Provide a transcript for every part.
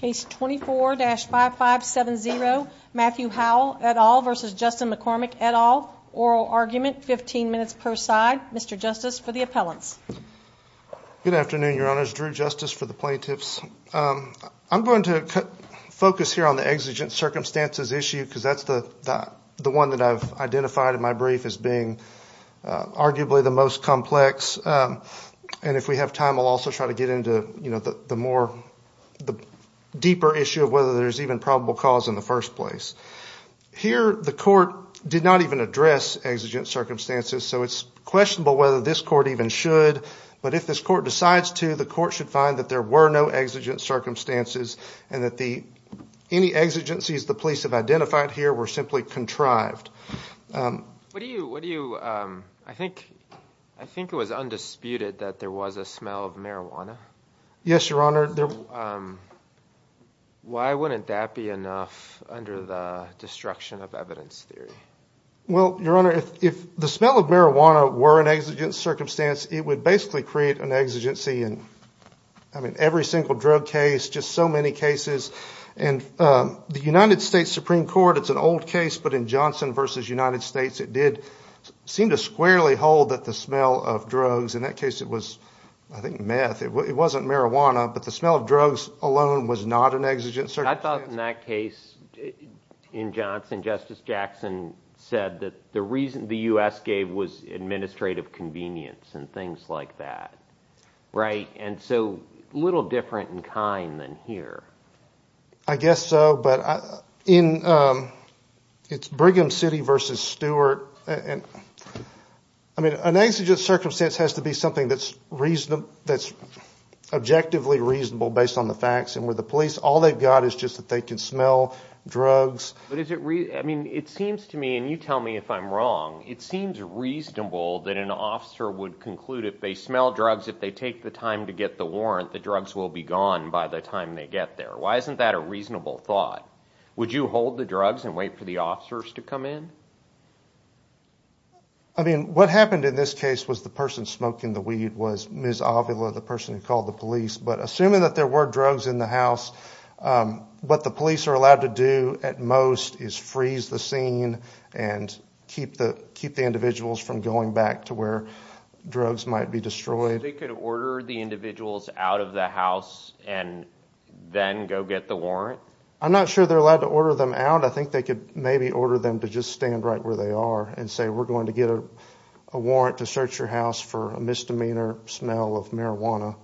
Case 24-5570, Matthew Howell et al versus Justin McCormick et al. Oral argument, 15 minutes per side. Mr. Justice, for the appellants. Good afternoon, Your Honors. Drew Justice for the plaintiffs. I'm going to focus here on the exigent circumstances issue, because that's the one that I've identified in my brief as being arguably the most complex. And if we have time, I'll also try to get into the more deeper issue of whether there's even probable cause in the first place. Here, the court did not even address exigent circumstances, so it's questionable whether this court even should. But if this court decides to, the court should find that there were no exigent circumstances and that any exigencies the police have identified here were simply contrived. What do you, I think it was undisputed that there was a smell of marijuana. Yes, Your Honor. Why wouldn't that be enough under the destruction of evidence theory? Well, Your Honor, if the smell of marijuana were an exigent circumstance, it would basically create an exigency in every single drug case, just so many cases. And the United States Supreme Court, it's an old case, but in Johnson versus United States, it did seem to squarely hold that the smell of drugs, in that case it was, I think, meth. It wasn't marijuana, but the smell of drugs alone was not an exigent circumstance. I thought in that case, in Johnson, Justice Jackson said that the reason the US gave was administrative convenience and things like that, right? And so a little different in kind than here. I guess so, but it's Brigham City versus Stewart. And I mean, an exigent circumstance has to be something that's objectively reasonable based on the facts. And with the police, all they've got is just that they can smell drugs. But is it really, I mean, it seems to me, and you tell me if I'm wrong, it seems reasonable that an officer would conclude if they smell drugs, if they take the time to get the warrant, the drugs will be gone by the time they get there. Why isn't that a reasonable thought? Would you hold the drugs and wait for the officers to come in? I mean, what happened in this case was the person smoking the weed was Ms. Avila, the person who called the police. But assuming that there were drugs in the house, what the police are allowed to do at most is freeze the scene and keep the individuals from going back to where drugs might be destroyed. So they could order the individuals out of the house and then go get the warrant? I'm not sure they're allowed to order them out. I think they could maybe order them to just stand right where they are and say, we're going to get a warrant to search your house for a misdemeanor smell of marijuana.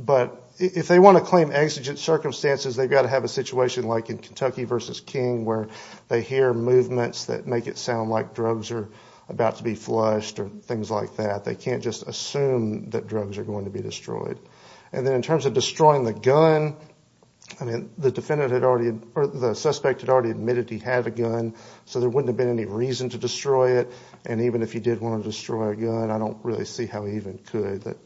But if they want to claim exigent circumstances, they've got to have a situation like in Kentucky versus King where they hear movements that make it sound like drugs are about to be flushed or things like that. They can't just assume that drugs are going to be destroyed. And then in terms of destroying the gun, I mean, the suspect had already admitted he had a gun. So there wouldn't have been any reason to destroy it. And even if he did want to destroy a gun, I don't really see how he even could.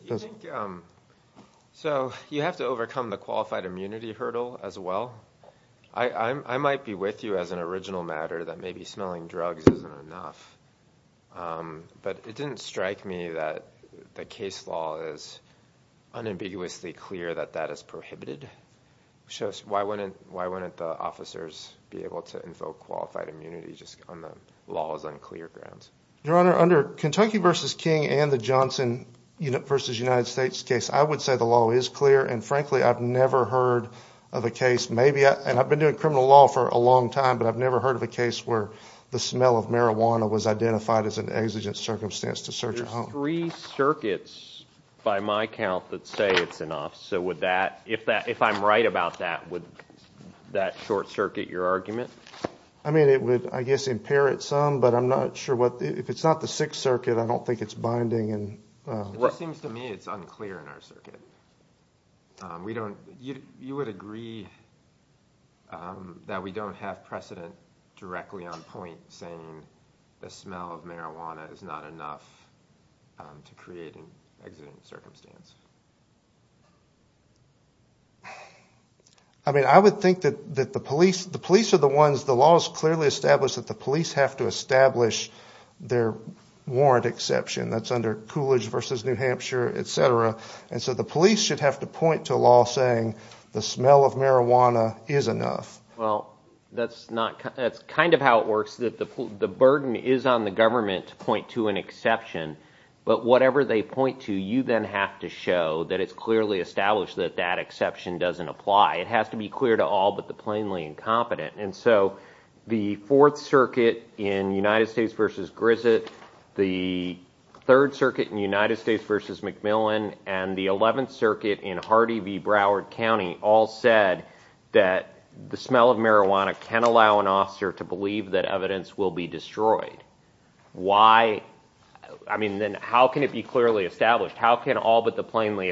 So you have to overcome the qualified immunity hurdle as well. I might be with you as an original matter that maybe smelling drugs isn't enough. But it didn't strike me that the case law is unambiguously clear that that is prohibited. So why wouldn't the officers be able to invoke qualified immunity just on the law's unclear grounds? Your Honor, under Kentucky versus King and the Johnson versus United States case, I would say the law is clear. And frankly, I've never heard of a case maybe, and I've been doing criminal law for a long time, but I've never heard of a case where the smell of marijuana was identified as an exigent circumstance to search your home. There's three circuits by my count that say it's enough. If I'm right about that, would that short circuit your argument? I mean, it would, I guess, impair it some. But I'm not sure what the, if it's not the Sixth Circuit, I don't think it's binding. It just seems to me it's unclear in our circuit. You would agree that we don't have precedent directly on point saying the smell of marijuana is not enough to create an exigent circumstance? I mean, I would think that the police are the ones, the law is clearly established that the police have to establish their warrant exception. That's under Coolidge versus New Hampshire, et cetera. And so the police should have to point to a law saying the smell of marijuana is enough. Well, that's not, that's kind of how it works, that the burden is on the government to point to an exception. But whatever they point to, you then have to show that it's clearly established that that exception doesn't apply. It has to be clear to all but the plainly incompetent. And so the Fourth Circuit in United States versus Grissett, the Third Circuit in United States versus McMillan, and the Eleventh Circuit in Hardy v. Broward County all said that the smell of marijuana can allow an officer to believe that evidence will be destroyed. Why, I mean, then how can it be clearly established? How can all but the plainly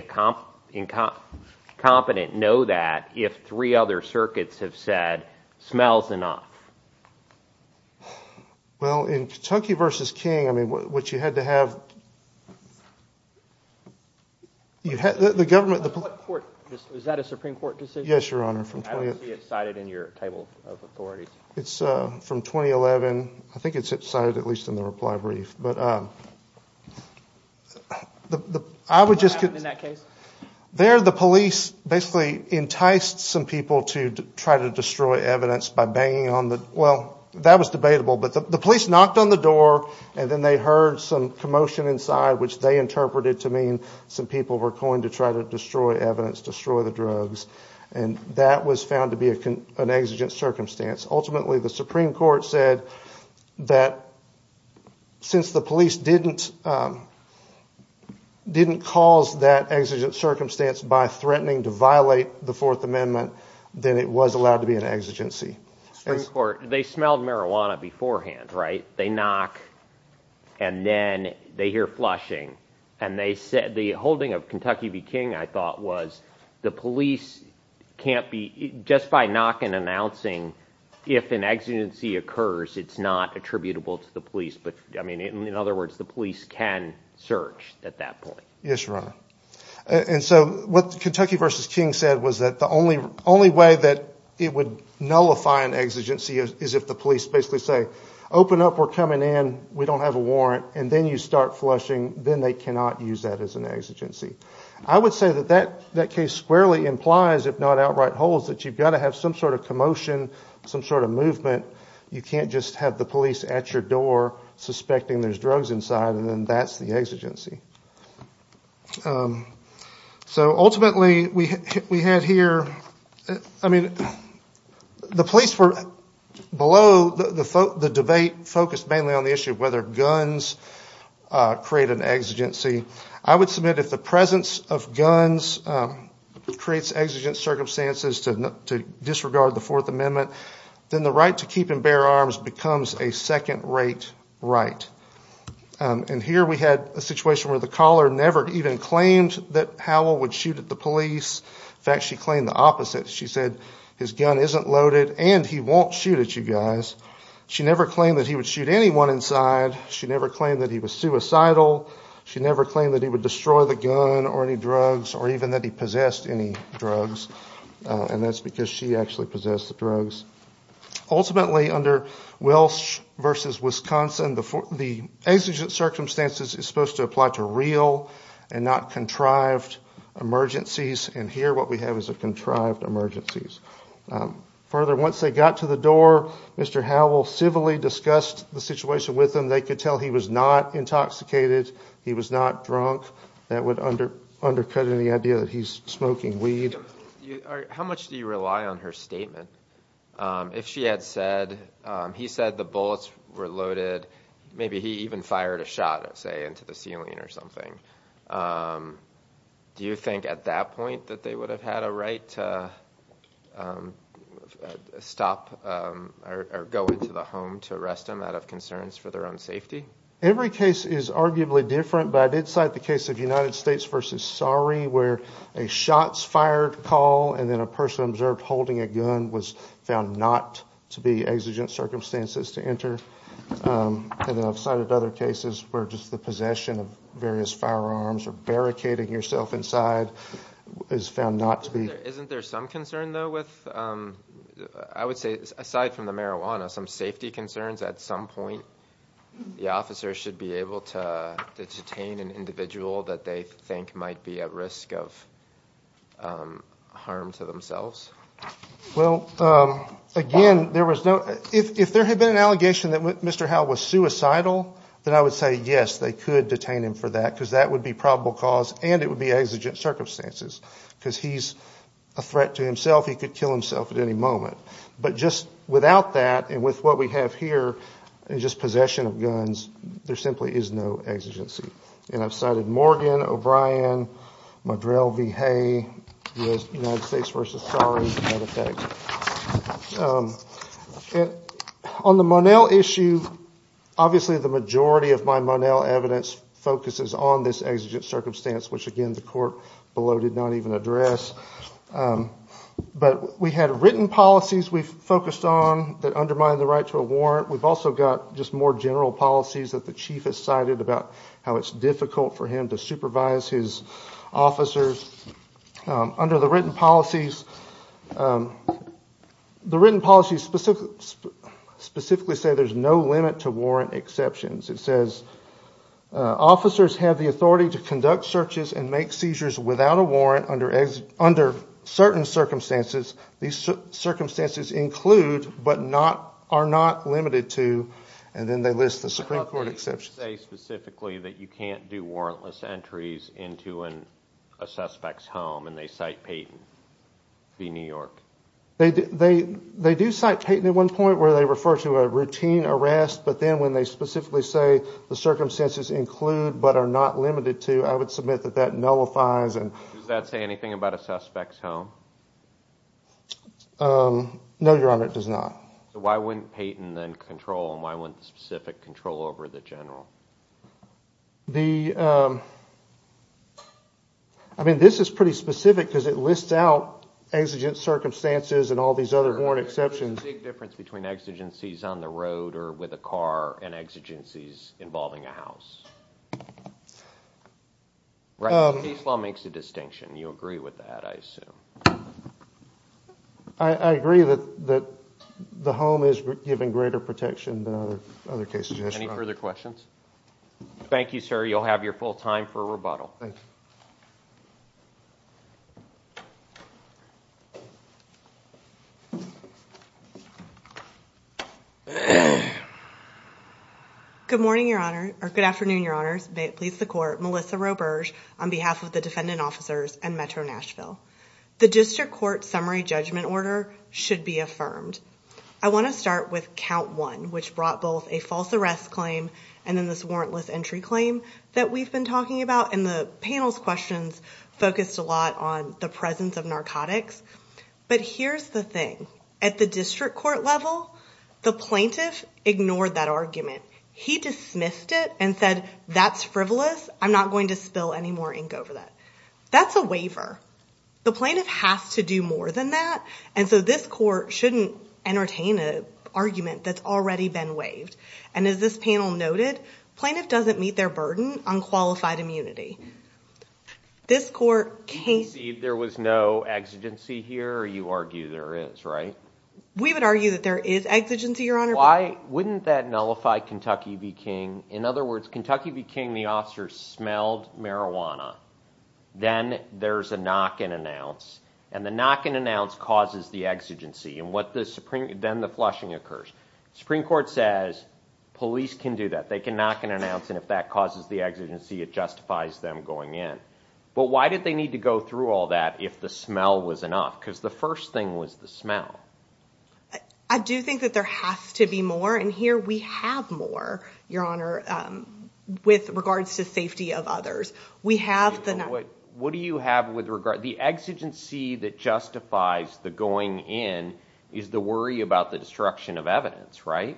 incompetent know that if three other circuits have said, smells enough? Well, in Kentucky versus King, I mean, what you had to have, you had, the government, the police. Is that a Supreme Court decision? Yes, Your Honor, from 20th. I don't see it cited in your table of authorities. It's from 2011, I think it's cited at least in the reply brief. But I would just- What happened in that case? There, the police basically enticed some people to try to destroy evidence by banging on the, well, that was debatable, but the police knocked on the door and then they heard some commotion inside which they interpreted to mean some people were going to try to destroy evidence, destroy the drugs. And that was found to be an exigent circumstance. Ultimately, the Supreme Court said that since the police didn't cause that exigent circumstance by threatening to violate the Fourth Amendment, then it was allowed to be an exigency. Supreme Court, they smelled marijuana beforehand, right? They knock and then they hear flushing. And they said, the holding of Kentucky v. King, I thought was the police can't be, just by knocking and announcing if an exigency occurs, it's not attributable to the police. But I mean, in other words, the police can search at that point. Yes, Your Honor. And so what Kentucky v. King said was that the only way that it would nullify an exigency is if the police basically say, open up, we're coming in, we don't have a warrant, and then you start flushing, then they cannot use that as an exigency. I would say that that case squarely implies, if not outright holds, that you've got to have some sort of commotion, some sort of movement. You can't just have the police at your door suspecting there's drugs inside, and then that's the exigency. So ultimately, we had here, I mean, the police were below, the debate focused mainly on the issue of whether guns create an exigency. I would submit if the presence of guns creates exigent circumstances to disregard the Fourth Amendment, then the right to keep and bear arms becomes a second-rate right. And here we had a situation where the caller never even claimed that Howell would shoot at the police. In fact, she claimed the opposite. She said, his gun isn't loaded, and he won't shoot at you guys. She never claimed that he would shoot anyone inside. She never claimed that he was suicidal. She never claimed that he would destroy the gun or any drugs, or even that he possessed any drugs. And that's because she actually possessed the drugs. Ultimately, under Welsh versus Wisconsin, the exigent circumstances is supposed to apply to real and not contrived emergencies. And here, what we have is a contrived emergencies. Further, once they got to the door, Mr. Howell civilly discussed the situation with them. They could tell he was not intoxicated. He was not drunk. That would undercut any idea that he's smoking weed. How much do you rely on her statement? If she had said, he said the bullets were loaded, maybe he even fired a shot, say, into the ceiling or something. Do you think at that point that they would have had a right to stop or go into the home to arrest him out of concerns for their own safety? Every case is arguably different, but I did cite the case of United States versus Surrey where a shot's fired call and then a person observed holding a gun was found not to be exigent circumstances to enter. And then I've cited other cases where just the possession of various firearms or barricading yourself inside is found not to be. Isn't there some concern, though, with, I would say, aside from the marijuana, some safety concerns at some point the officer should be able to detain an individual that they think might be at risk of harm to themselves? Well, again, there was no, if there had been an allegation that Mr. Howell was suicidal, then I would say, yes, they could detain him for that because that would be probable cause and it would be exigent circumstances because he's a threat to himself. He could kill himself at any moment. But just without that and with what we have here, just possession of guns, there simply is no exigency. And I've cited Morgan, O'Brien, Madrell v. Hay, United States versus Surrey, as a matter of fact. On the Monel issue, obviously the majority of my Monel evidence focuses on this exigent circumstance, which, again, the court below did not even address. But we had written policies we've focused on that undermine the right to a warrant. We've also got just more general policies that the chief has cited about how it's difficult for him to supervise his officers. Under the written policies, the written policies specifically say there's no limit to warrant exceptions. It says, officers have the authority to conduct searches and make seizures without a warrant under certain circumstances. These circumstances include, but are not limited to, and then they list the Supreme Court exceptions. They say specifically that you can't do warrantless entries into a suspect's home, and they cite Payton v. New York. They do cite Payton at one point where they refer to a routine arrest, but then when they specifically say the circumstances include, but are not limited to, I would submit that that nullifies. Does that say anything about a suspect's home? No, Your Honor, it does not. So why wouldn't Payton then control, and why wouldn't the specific control over the general? I mean, this is pretty specific because it lists out exigent circumstances and all these other warrant exceptions. There's a big difference between exigencies on the road or with a car and exigencies involving a house. Right, the case law makes a distinction. You agree with that, I assume. I agree that the home is given greater protection than other cases. Any further questions? Thank you, sir. You'll have your full time for rebuttal. Thanks. Good morning, Your Honor, or good afternoon, Your Honors. May it please the Court, Melissa Roberge on behalf of the defendant officers and Metro Nashville. The district court summary judgment order should be affirmed. I wanna start with count one, which brought both a false arrest claim and then this warrantless entry claim that we've been talking about. And the panel's questions focused a lot on the presence of narcotics. But here's the thing. At the district court level, the plaintiff ignored that argument. He dismissed it and said, that's frivolous. I'm not going to spill any more ink over that. That's a waiver. The plaintiff has to do more than that. And so this court shouldn't entertain a argument that's already been waived. And as this panel noted, plaintiff doesn't meet their burden on qualified immunity. This court can't- There was no exigency here, or you argue there is, right? We would argue that there is exigency, Your Honor. Why wouldn't that nullify Kentucky v. King? In other words, Kentucky v. King, the officers smelled marijuana. Then there's a knock and announce. And the knock and announce causes the exigency. And what the Supreme- Then the flushing occurs. Supreme Court says police can do that. They can knock and announce. And if that causes the exigency, it justifies them going in. But why did they need to go through all that if the smell was enough? Because the first thing was the smell. I do think that there has to be more. And here we have more, Your Honor, with regards to safety of others. We have the- What do you have with regard- The exigency that justifies the going in is the worry about the destruction of evidence, right?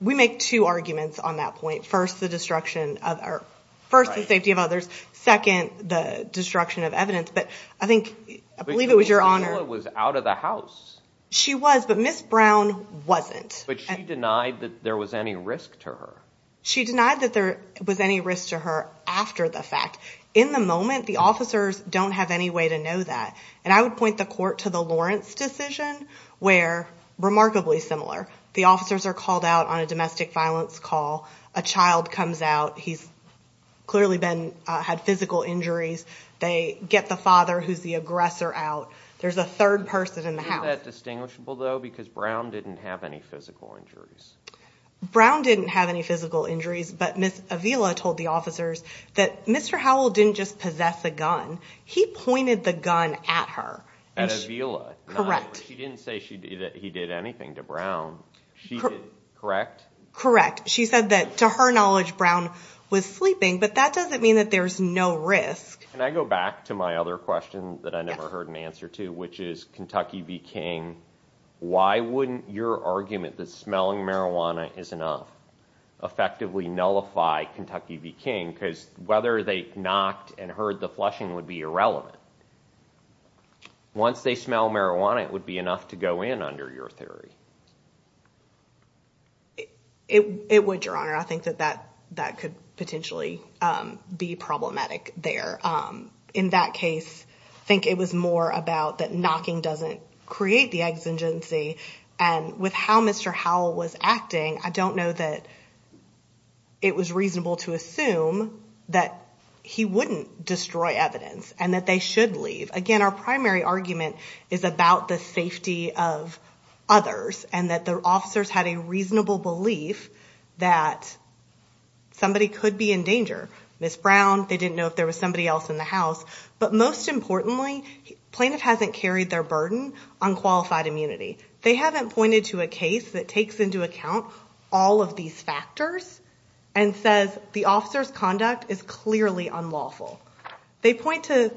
We make two arguments on that point. First, the destruction of- First, the safety of others. Second, the destruction of evidence. But I think- I believe it was Your Honor- Ms. Avila was out of the house. She was, but Ms. Brown wasn't. But she denied that there was any risk to her. She denied that there was any risk to her after the fact. In the moment, the officers don't have any way to know that. And I would point the court to the Lawrence decision where, remarkably similar, the officers are called out on a domestic violence call. A child comes out. He's clearly had physical injuries. They get the father, who's the aggressor, out. There's a third person in the house. Isn't that distinguishable, though, because Brown didn't have any physical injuries? Brown didn't have any physical injuries, but Ms. Avila told the officers that Mr. Howell didn't just possess a gun. He pointed the gun at her. At Avila? Correct. She didn't say that he did anything to Brown. She did, correct? Correct. She said that, to her knowledge, Brown was sleeping, but that doesn't mean that there's no risk. Can I go back to my other question that I never heard an answer to, which is Kentucky v. King. Why wouldn't your argument that smelling marijuana is enough to effectively nullify Kentucky v. King? Because whether they knocked and heard the flushing would be irrelevant. Once they smell marijuana, it would be enough to go in under your theory. It would, Your Honor. I think that that could potentially be problematic there. In that case, I think it was more about that knocking doesn't create the exigency. And with how Mr. Howell was acting, I don't know that it was reasonable to assume that he wouldn't destroy evidence and that they should leave. Again, our primary argument is about the safety of others and that the officers had a reasonable belief that somebody could be in danger. Ms. Brown, they didn't know if there was somebody else in the house. But most importantly, plaintiff hasn't carried their burden on qualified immunity. They haven't pointed to a case that takes into account all of these factors and says the officer's conduct is clearly unlawful. They point to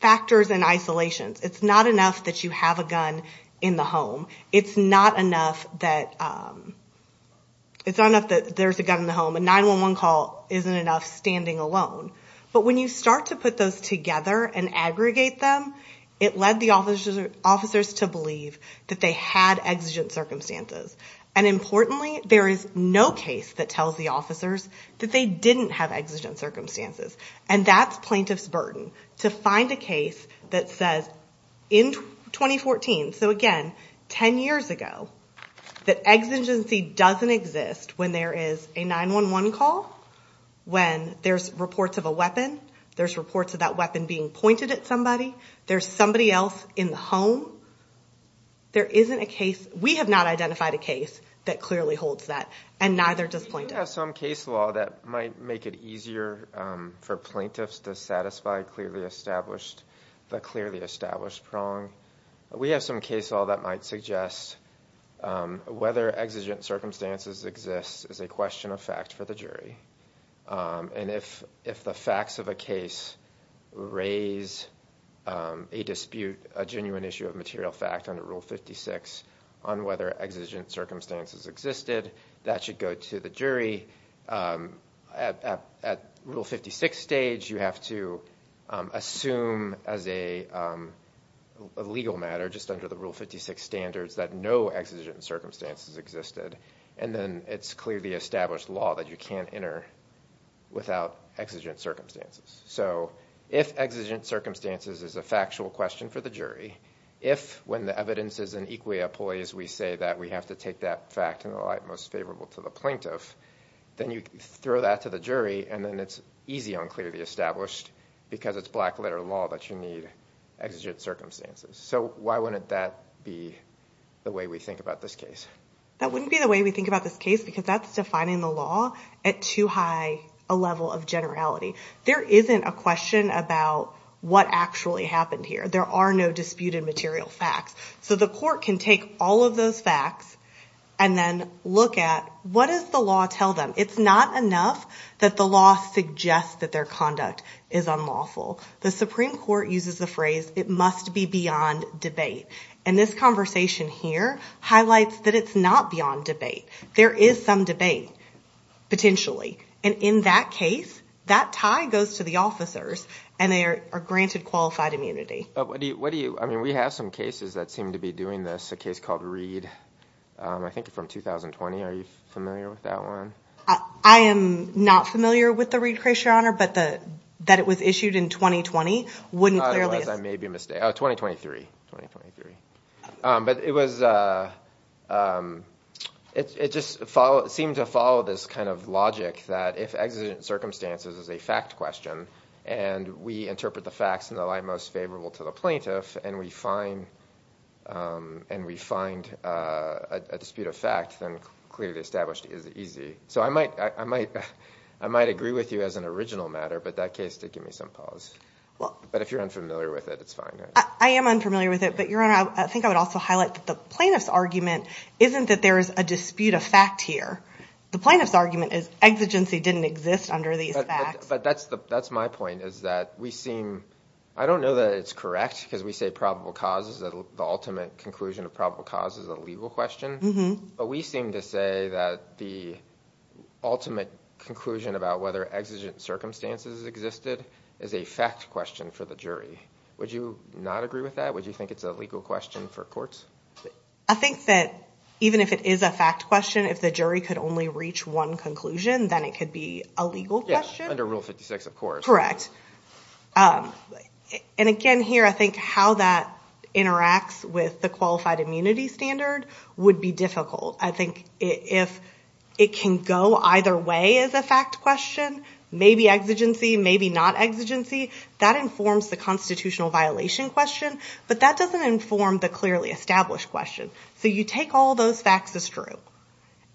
factors and isolations. It's not enough that you have a gun in the home. It's not enough that there's a gun in the home. A 911 call isn't enough standing alone. But when you start to put those together and aggregate them, it led the officers to believe that they had exigent circumstances. And importantly, there is no case that tells the officers that they didn't have exigent circumstances. And that's plaintiff's burden, to find a case that says in 2014, so again, 10 years ago, that exigency doesn't exist when there is a 911 call, when there's reports of a weapon, there's reports of that weapon being pointed at somebody, there's somebody else in the home. There isn't a case, we have not identified a case that clearly holds that. And neither does plaintiff. We do have some case law that might make it easier for plaintiffs to satisfy clearly established, the clearly established prong. We have some case law that might suggest whether exigent circumstances exist is a question of fact for the jury. And if the facts of a case raise a dispute, a genuine issue of material fact under Rule 56 on whether exigent circumstances existed, that should go to the jury. At Rule 56 stage, you have to assume as a legal matter just under the Rule 56 standards that no exigent circumstances existed. And then it's clearly established law that you can't enter without exigent circumstances. So if exigent circumstances is a factual question for the jury, if when the evidence is in equally a poise, we say that we have to take that fact in the light most favorable to the plaintiff, then you throw that to the jury and then it's easy on clearly established because it's black letter law that you need exigent circumstances. So why wouldn't that be the way we think about this case? That wouldn't be the way we think about this case because that's defining the law at too high a level of generality. There isn't a question about what actually happened here. There are no disputed material facts. So the court can take all of those facts and then look at what does the law tell them? It's not enough that the law suggests that their conduct is unlawful. The Supreme Court uses the phrase, it must be beyond debate. And this conversation here highlights that it's not beyond debate. There is some debate, potentially. And in that case, that tie goes to the officers and they are granted qualified immunity. But what do you, I mean, we have some cases that seem to be doing this, a case called Reed, I think from 2020, are you familiar with that one? I am not familiar with the Reed case, your honor, but that it was issued in 2020 wouldn't clearly. Otherwise I may be mistaken, 2023, 2023. But it was, it just seemed to follow this kind of logic that if exigent circumstances is a fact question and we interpret the facts in the light most favorable to the plaintiff and we find a dispute of fact, then clearly established is easy. So I might agree with you as an original matter, but that case did give me some pause. But if you're unfamiliar with it, it's fine. I am unfamiliar with it, but your honor, I think I would also highlight that the plaintiff's argument isn't that there is a dispute of fact here. The plaintiff's argument is exigency didn't exist under these facts. But that's my point is that we seem, I don't know that it's correct, because we say probable causes, the ultimate conclusion of probable cause is a legal question. But we seem to say that the ultimate conclusion about whether exigent circumstances existed is a fact question for the jury. Would you not agree with that? Would you think it's a legal question for courts? I think that even if it is a fact question, if the jury could only reach one conclusion, then it could be a legal question. Yes, under Rule 56, of course. Correct. And again here, I think how that interacts with the qualified immunity standard would be difficult. I think if it can go either way as a fact question, maybe exigency, maybe not exigency, that informs the constitutional violation question, but that doesn't inform the clearly established question. So you take all those facts as true,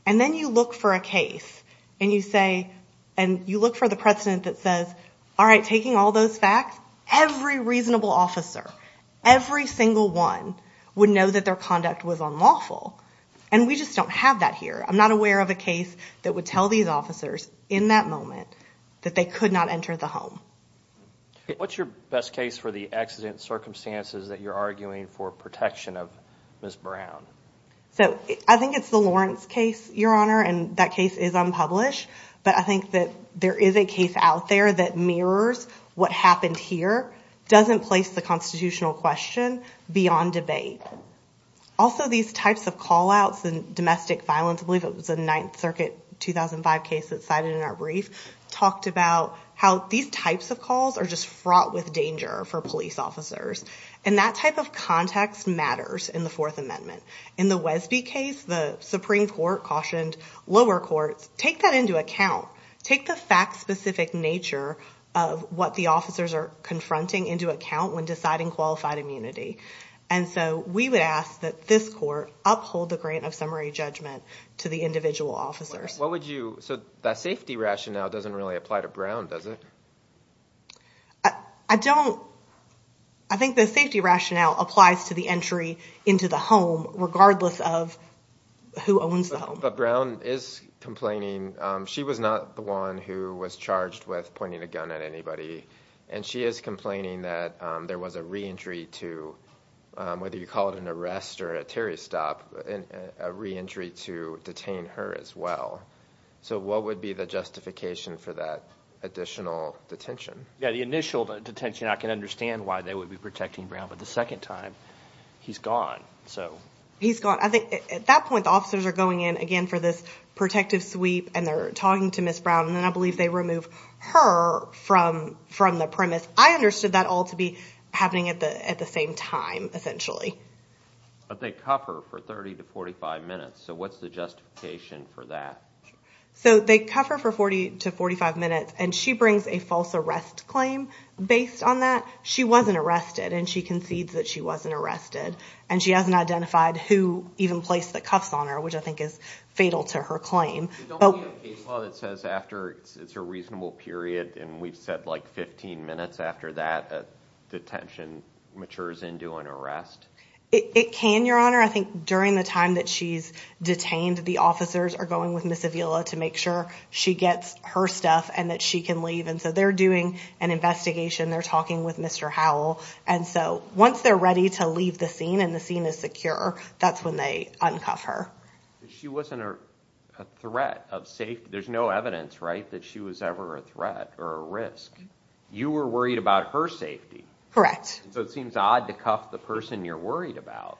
and then you look for a case, and you say, and you look for the precedent that says, all right, taking all those facts, every reasonable officer, every single one, would know that their conduct was unlawful. And we just don't have that here. I'm not aware of a case that would tell these officers in that moment that they could not enter the home. What's your best case for the accident circumstances that you're arguing for protection of Ms. Brown? So I think it's the Lawrence case, Your Honor, and that case is unpublished, but I think that there is a case out there that mirrors what happened here, doesn't place the constitutional question beyond debate. Also, these types of call-outs and domestic violence, I believe it was a Ninth Circuit 2005 case that's cited in our brief, talked about how these types of calls are just fraught with danger for police officers. And that type of context matters in the Fourth Amendment. In the Wesby case, the Supreme Court cautioned lower courts, take that into account, take the fact-specific nature of what the officers are confronting into account when deciding qualified immunity. And so we would ask that this court uphold the grant of summary judgment to the individual officers. What would you, so that safety rationale doesn't really apply to Brown, does it? I don't, I think the safety rationale applies to the entry into the home, regardless of who owns the home. But Brown is complaining, she was not the one who was charged with pointing a gun at anybody. And she is complaining that there was a re-entry to, whether you call it an arrest or a Terry stop, a re-entry to detain her as well. So what would be the justification for that additional detention? Yeah, the initial detention, I can understand why they would be protecting Brown, but the second time, he's gone, so. He's gone. At that point, the officers are going in again for this protective sweep, and they're talking to Ms. Brown, and then I believe they remove her from the premise. I understood that all to be happening at the same time, essentially. But they cuff her for 30 to 45 minutes, so what's the justification for that? So they cuff her for 40 to 45 minutes, and she brings a false arrest claim based on that. She wasn't arrested, and she concedes that she wasn't arrested. And she hasn't identified who even placed the cuffs on her, which I think is fatal to her claim. But don't we have case law that says after it's a reasonable period, and we've said like 15 minutes after that, detention matures into an arrest? It can, Your Honor. I think during the time that she's detained, the officers are going with Ms. Avila to make sure she gets her stuff, and that she can leave. And so they're doing an investigation. They're talking with Mr. Howell. And so once they're ready to leave the scene, and the scene is secure, that's when they uncuff her. She wasn't a threat of safety. There's no evidence, right, that she was ever a threat or a risk. You were worried about her safety. Correct. So it seems odd to cuff the person you're worried about.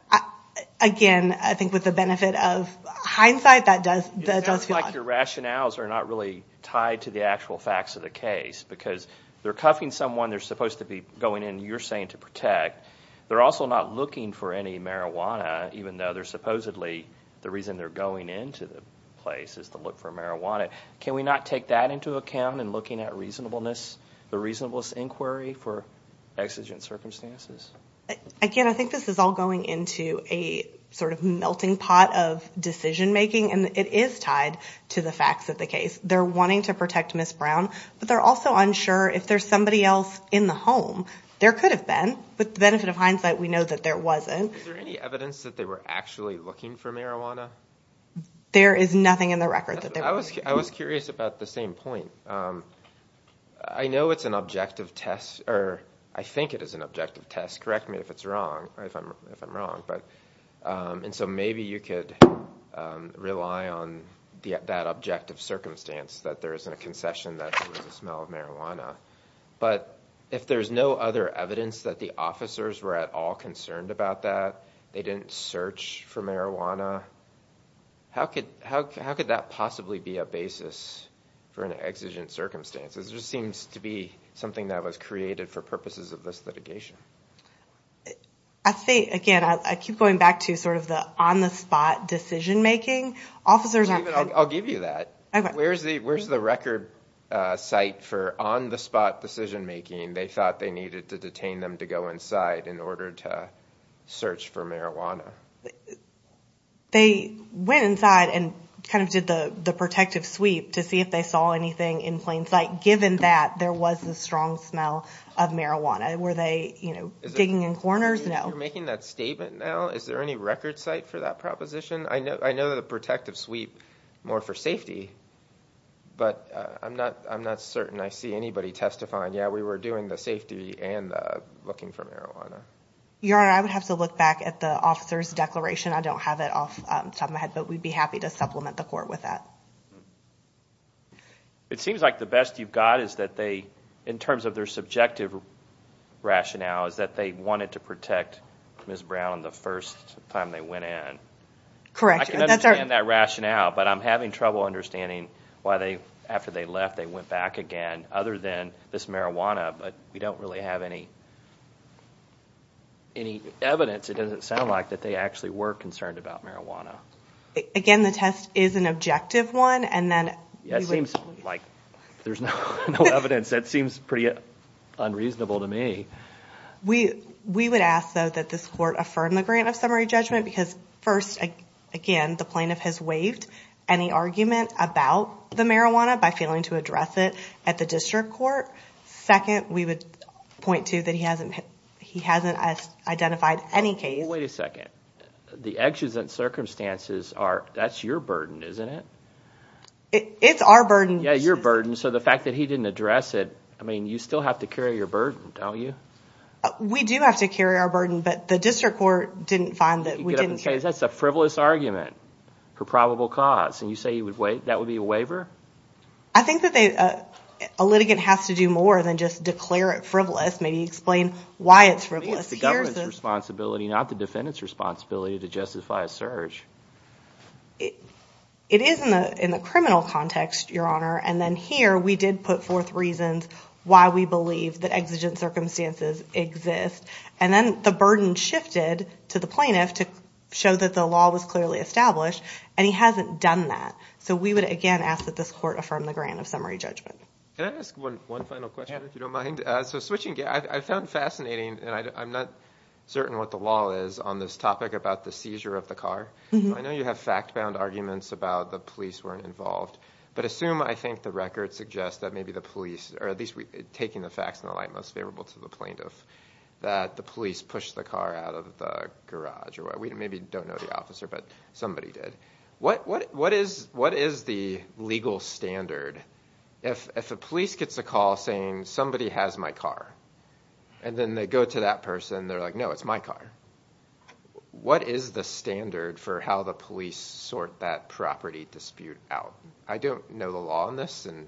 Again, I think with the benefit of hindsight, that does feel odd. It sounds like your rationales are not really tied to the actual facts of the case, because they're cuffing someone they're supposed to be going in, you're saying, to protect. They're also not looking for any marijuana, even though they're supposedly, the reason they're going into the place is to look for marijuana. Can we not take that into account in looking at reasonableness, the reasonableness inquiry for exigent circumstances? Again, I think this is all going into a sort of melting pot of decision making, and it is tied to the facts of the case. They're wanting to protect Ms. Brown, but they're also unsure if there's somebody else in the home. There could have been, but the benefit of hindsight, we know that there wasn't. Is there any evidence that they were actually looking for marijuana? There is nothing in the record that they were looking for. I was curious about the same point. I know it's an objective test, or I think it is an objective test, correct me if it's wrong, if I'm wrong, and so maybe you could rely on that objective circumstance that there isn't a concession that there was a smell of marijuana, but if there's no other evidence that the officers were at all concerned about that, they didn't search for marijuana, how could that possibly be a basis for an exigent circumstance? It just seems to be something that was created for purposes of this litigation. I think, again, I keep going back to sort of the on-the-spot decision-making. Officers aren't- I'll give you that. Where's the record site for on-the-spot decision-making they thought they needed to detain them to go inside in order to search for marijuana? They went inside and kind of did the protective sweep to see if they saw anything in plain sight, given that there was a strong smell of marijuana. Were they digging in corners? No. You're making that statement now? Is there any record site for that proposition? I know the protective sweep more for safety, but I'm not certain I see anybody testifying, yeah, we were doing the safety and looking for marijuana. Your Honor, I would have to look back at the officer's declaration. I don't have it off the top of my head, but we'd be happy to supplement the court with that. It seems like the best you've got is that they, in terms of their subjective rationale, is that they wanted to protect Ms. Brown the first time they went in. Correct. I can understand that rationale, but I'm having trouble understanding why they, after they left, they went back again, other than this marijuana, but we don't really have any evidence, it doesn't sound like, that they actually were concerned about marijuana. Again, the test is an objective one, and then we would- There's no evidence, that seems pretty unreasonable to me. We would ask, though, that this court affirm the grant of summary judgment, because first, again, the plaintiff has waived any argument about the marijuana by failing to address it at the district court. Second, we would point to that he hasn't identified any case. Wait a second, the actions and circumstances are, that's your burden, isn't it? It's our burden. Yeah, your burden, so the fact that he didn't address it, I mean, you still have to carry your burden, don't you? We do have to carry our burden, but the district court didn't find that we didn't- You get up and say, that's a frivolous argument for probable cause, and you say that would be a waiver? I think that a litigant has to do more than just declare it frivolous, maybe explain why it's frivolous. I think it's the government's responsibility, not the defendant's responsibility to justify a search. It is in the criminal context, Your Honor, and then here, we did put forth reasons why we believe that exigent circumstances exist, and then the burden shifted to the plaintiff to show that the law was clearly established, and he hasn't done that. So we would, again, ask that this court affirm the grant of summary judgment. Can I ask one final question, if you don't mind? So switching gears, I found fascinating, and I'm not certain what the law is on this topic about the seizure of the car, but I know you have fact-bound arguments about the police weren't involved, but assume, I think, the record suggests that maybe the police, or at least taking the facts in the light most favorable to the plaintiff, that the police pushed the car out of the garage, or we maybe don't know the officer, but somebody did. What is the legal standard, if a police gets a call saying, somebody has my car, and then they go to that person, they're like, no, it's my car, what is the standard for how the police sort that property dispute out? I don't know the law on this, and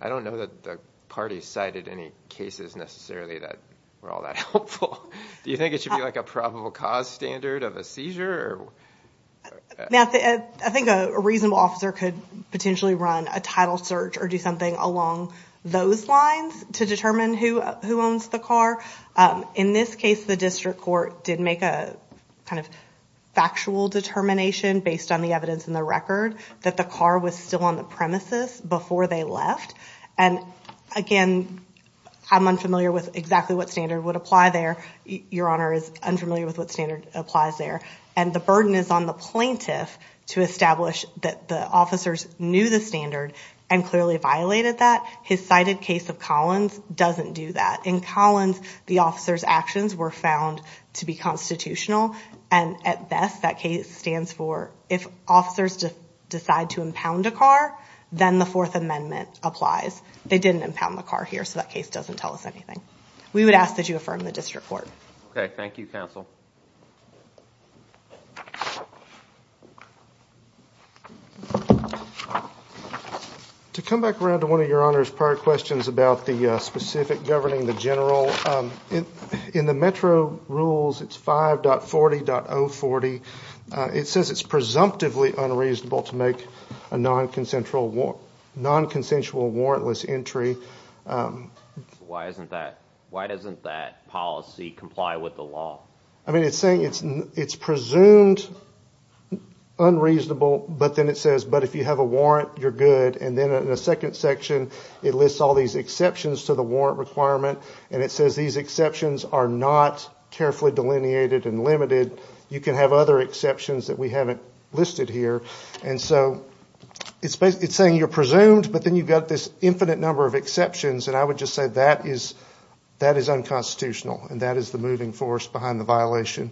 I don't know that the party cited any cases, necessarily, that were all that helpful. Do you think it should be like a probable cause standard of a seizure, or? Now, I think a reasonable officer could potentially run a title search, or do something along those lines to determine who owns the car. In this case, the district court did make a kind of factual determination, based on the evidence in the record, that the car was still on the premises before they left. And again, I'm unfamiliar with exactly what standard would apply there. Your Honor is unfamiliar with what standard applies there. And the burden is on the plaintiff to establish that the officers knew the standard, and clearly violated that. His cited case of Collins doesn't do that. In Collins, the officer's actions were found to be constitutional, and at best, that case stands for, if officers decide to impound a car, then the Fourth Amendment applies. They didn't impound the car here, so that case doesn't tell us anything. We would ask that you affirm the district court. Okay, thank you, counsel. To come back around to one of Your Honor's prior questions about the specific governing the general, in the Metro rules, it's 5.40.040. It says it's presumptively unreasonable to make a non-consensual warrantless entry. Why doesn't that policy comply with the law? I mean, it's saying it's presumed unreasonable, but then it says, but if you have a warrant, you're good. And then in the second section, it lists all these exceptions to the warrant requirement, and it says these exceptions are not carefully delineated and limited. You can have other exceptions that we haven't listed here. And so, it's saying you're presumed, but then you've got this infinite number of exceptions, and I would just say that is unconstitutional, and that is the moving force behind the violation,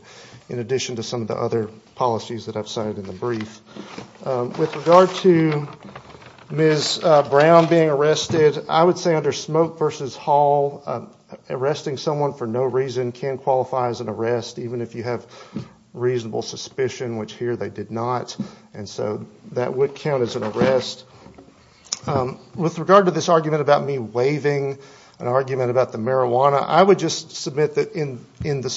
in addition to some of the other policies that I've cited in the brief. With regard to Ms. Brown being arrested, I would say under Smoke v. Hall, arresting someone for no reason can qualify as an arrest, even if you have reasonable suspicion, which here they did not. And so, that would count as an arrest. With regard to this argument about me waiving an argument about the marijuana, I would just submit that in the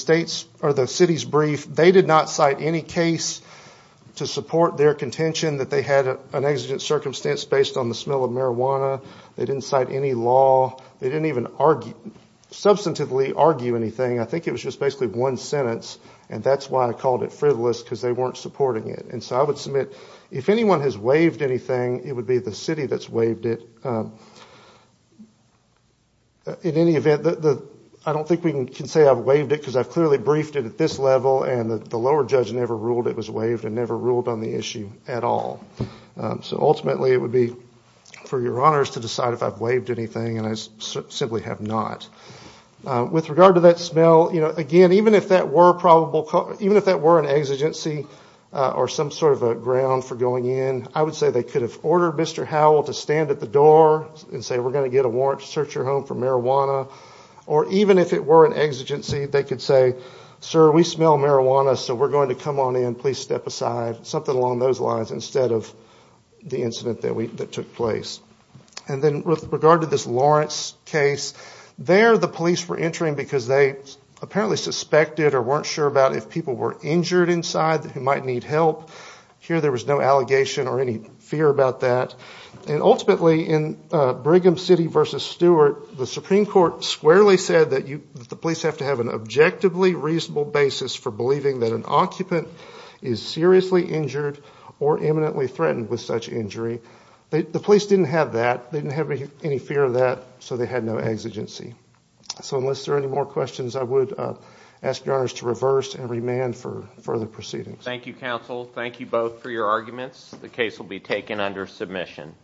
city's brief, they did not cite any case to support their contention that they had an exigent circumstance based on the smell of marijuana. They didn't cite any law. They didn't even substantively argue anything. I think it was just basically one sentence, and that's why I called it frivolous, because they weren't supporting it. And so, I would submit, if anyone has waived anything, it would be the city that's waived it. In any event, I don't think we can say I've waived it, because I've clearly briefed it at this level, and the lower judge never ruled it was waived, and never ruled on the issue at all. So, ultimately, it would be for your honors to decide if I've waived anything, and I simply have not. With regard to that smell, again, even if that were an exigency, or some sort of a ground for going in, I would say they could have ordered Mr. Howell to stand at the door and say, we're gonna get a warrant to search your home for marijuana, or even if it were an exigency, they could say, sir, we smell marijuana, so we're going to come on in, please step aside. Something along those lines, instead of the incident that took place. And then, with regard to this Lawrence case, there, the police were entering because they apparently suspected, or weren't sure about if people were injured inside, who might need help. Here, there was no allegation, or any fear about that. And ultimately, in Brigham City versus Stewart, the Supreme Court squarely said that the police have to have an objectively reasonable basis for believing that an occupant is seriously injured, or imminently threatened with such injury. The police didn't have that. They didn't have any fear of that, so they had no exigency. So, unless there are any more questions, I would ask your honors to reverse, and remand for further proceedings. Thank you, counsel. Thank you both for your arguments. The case will be taken under submission.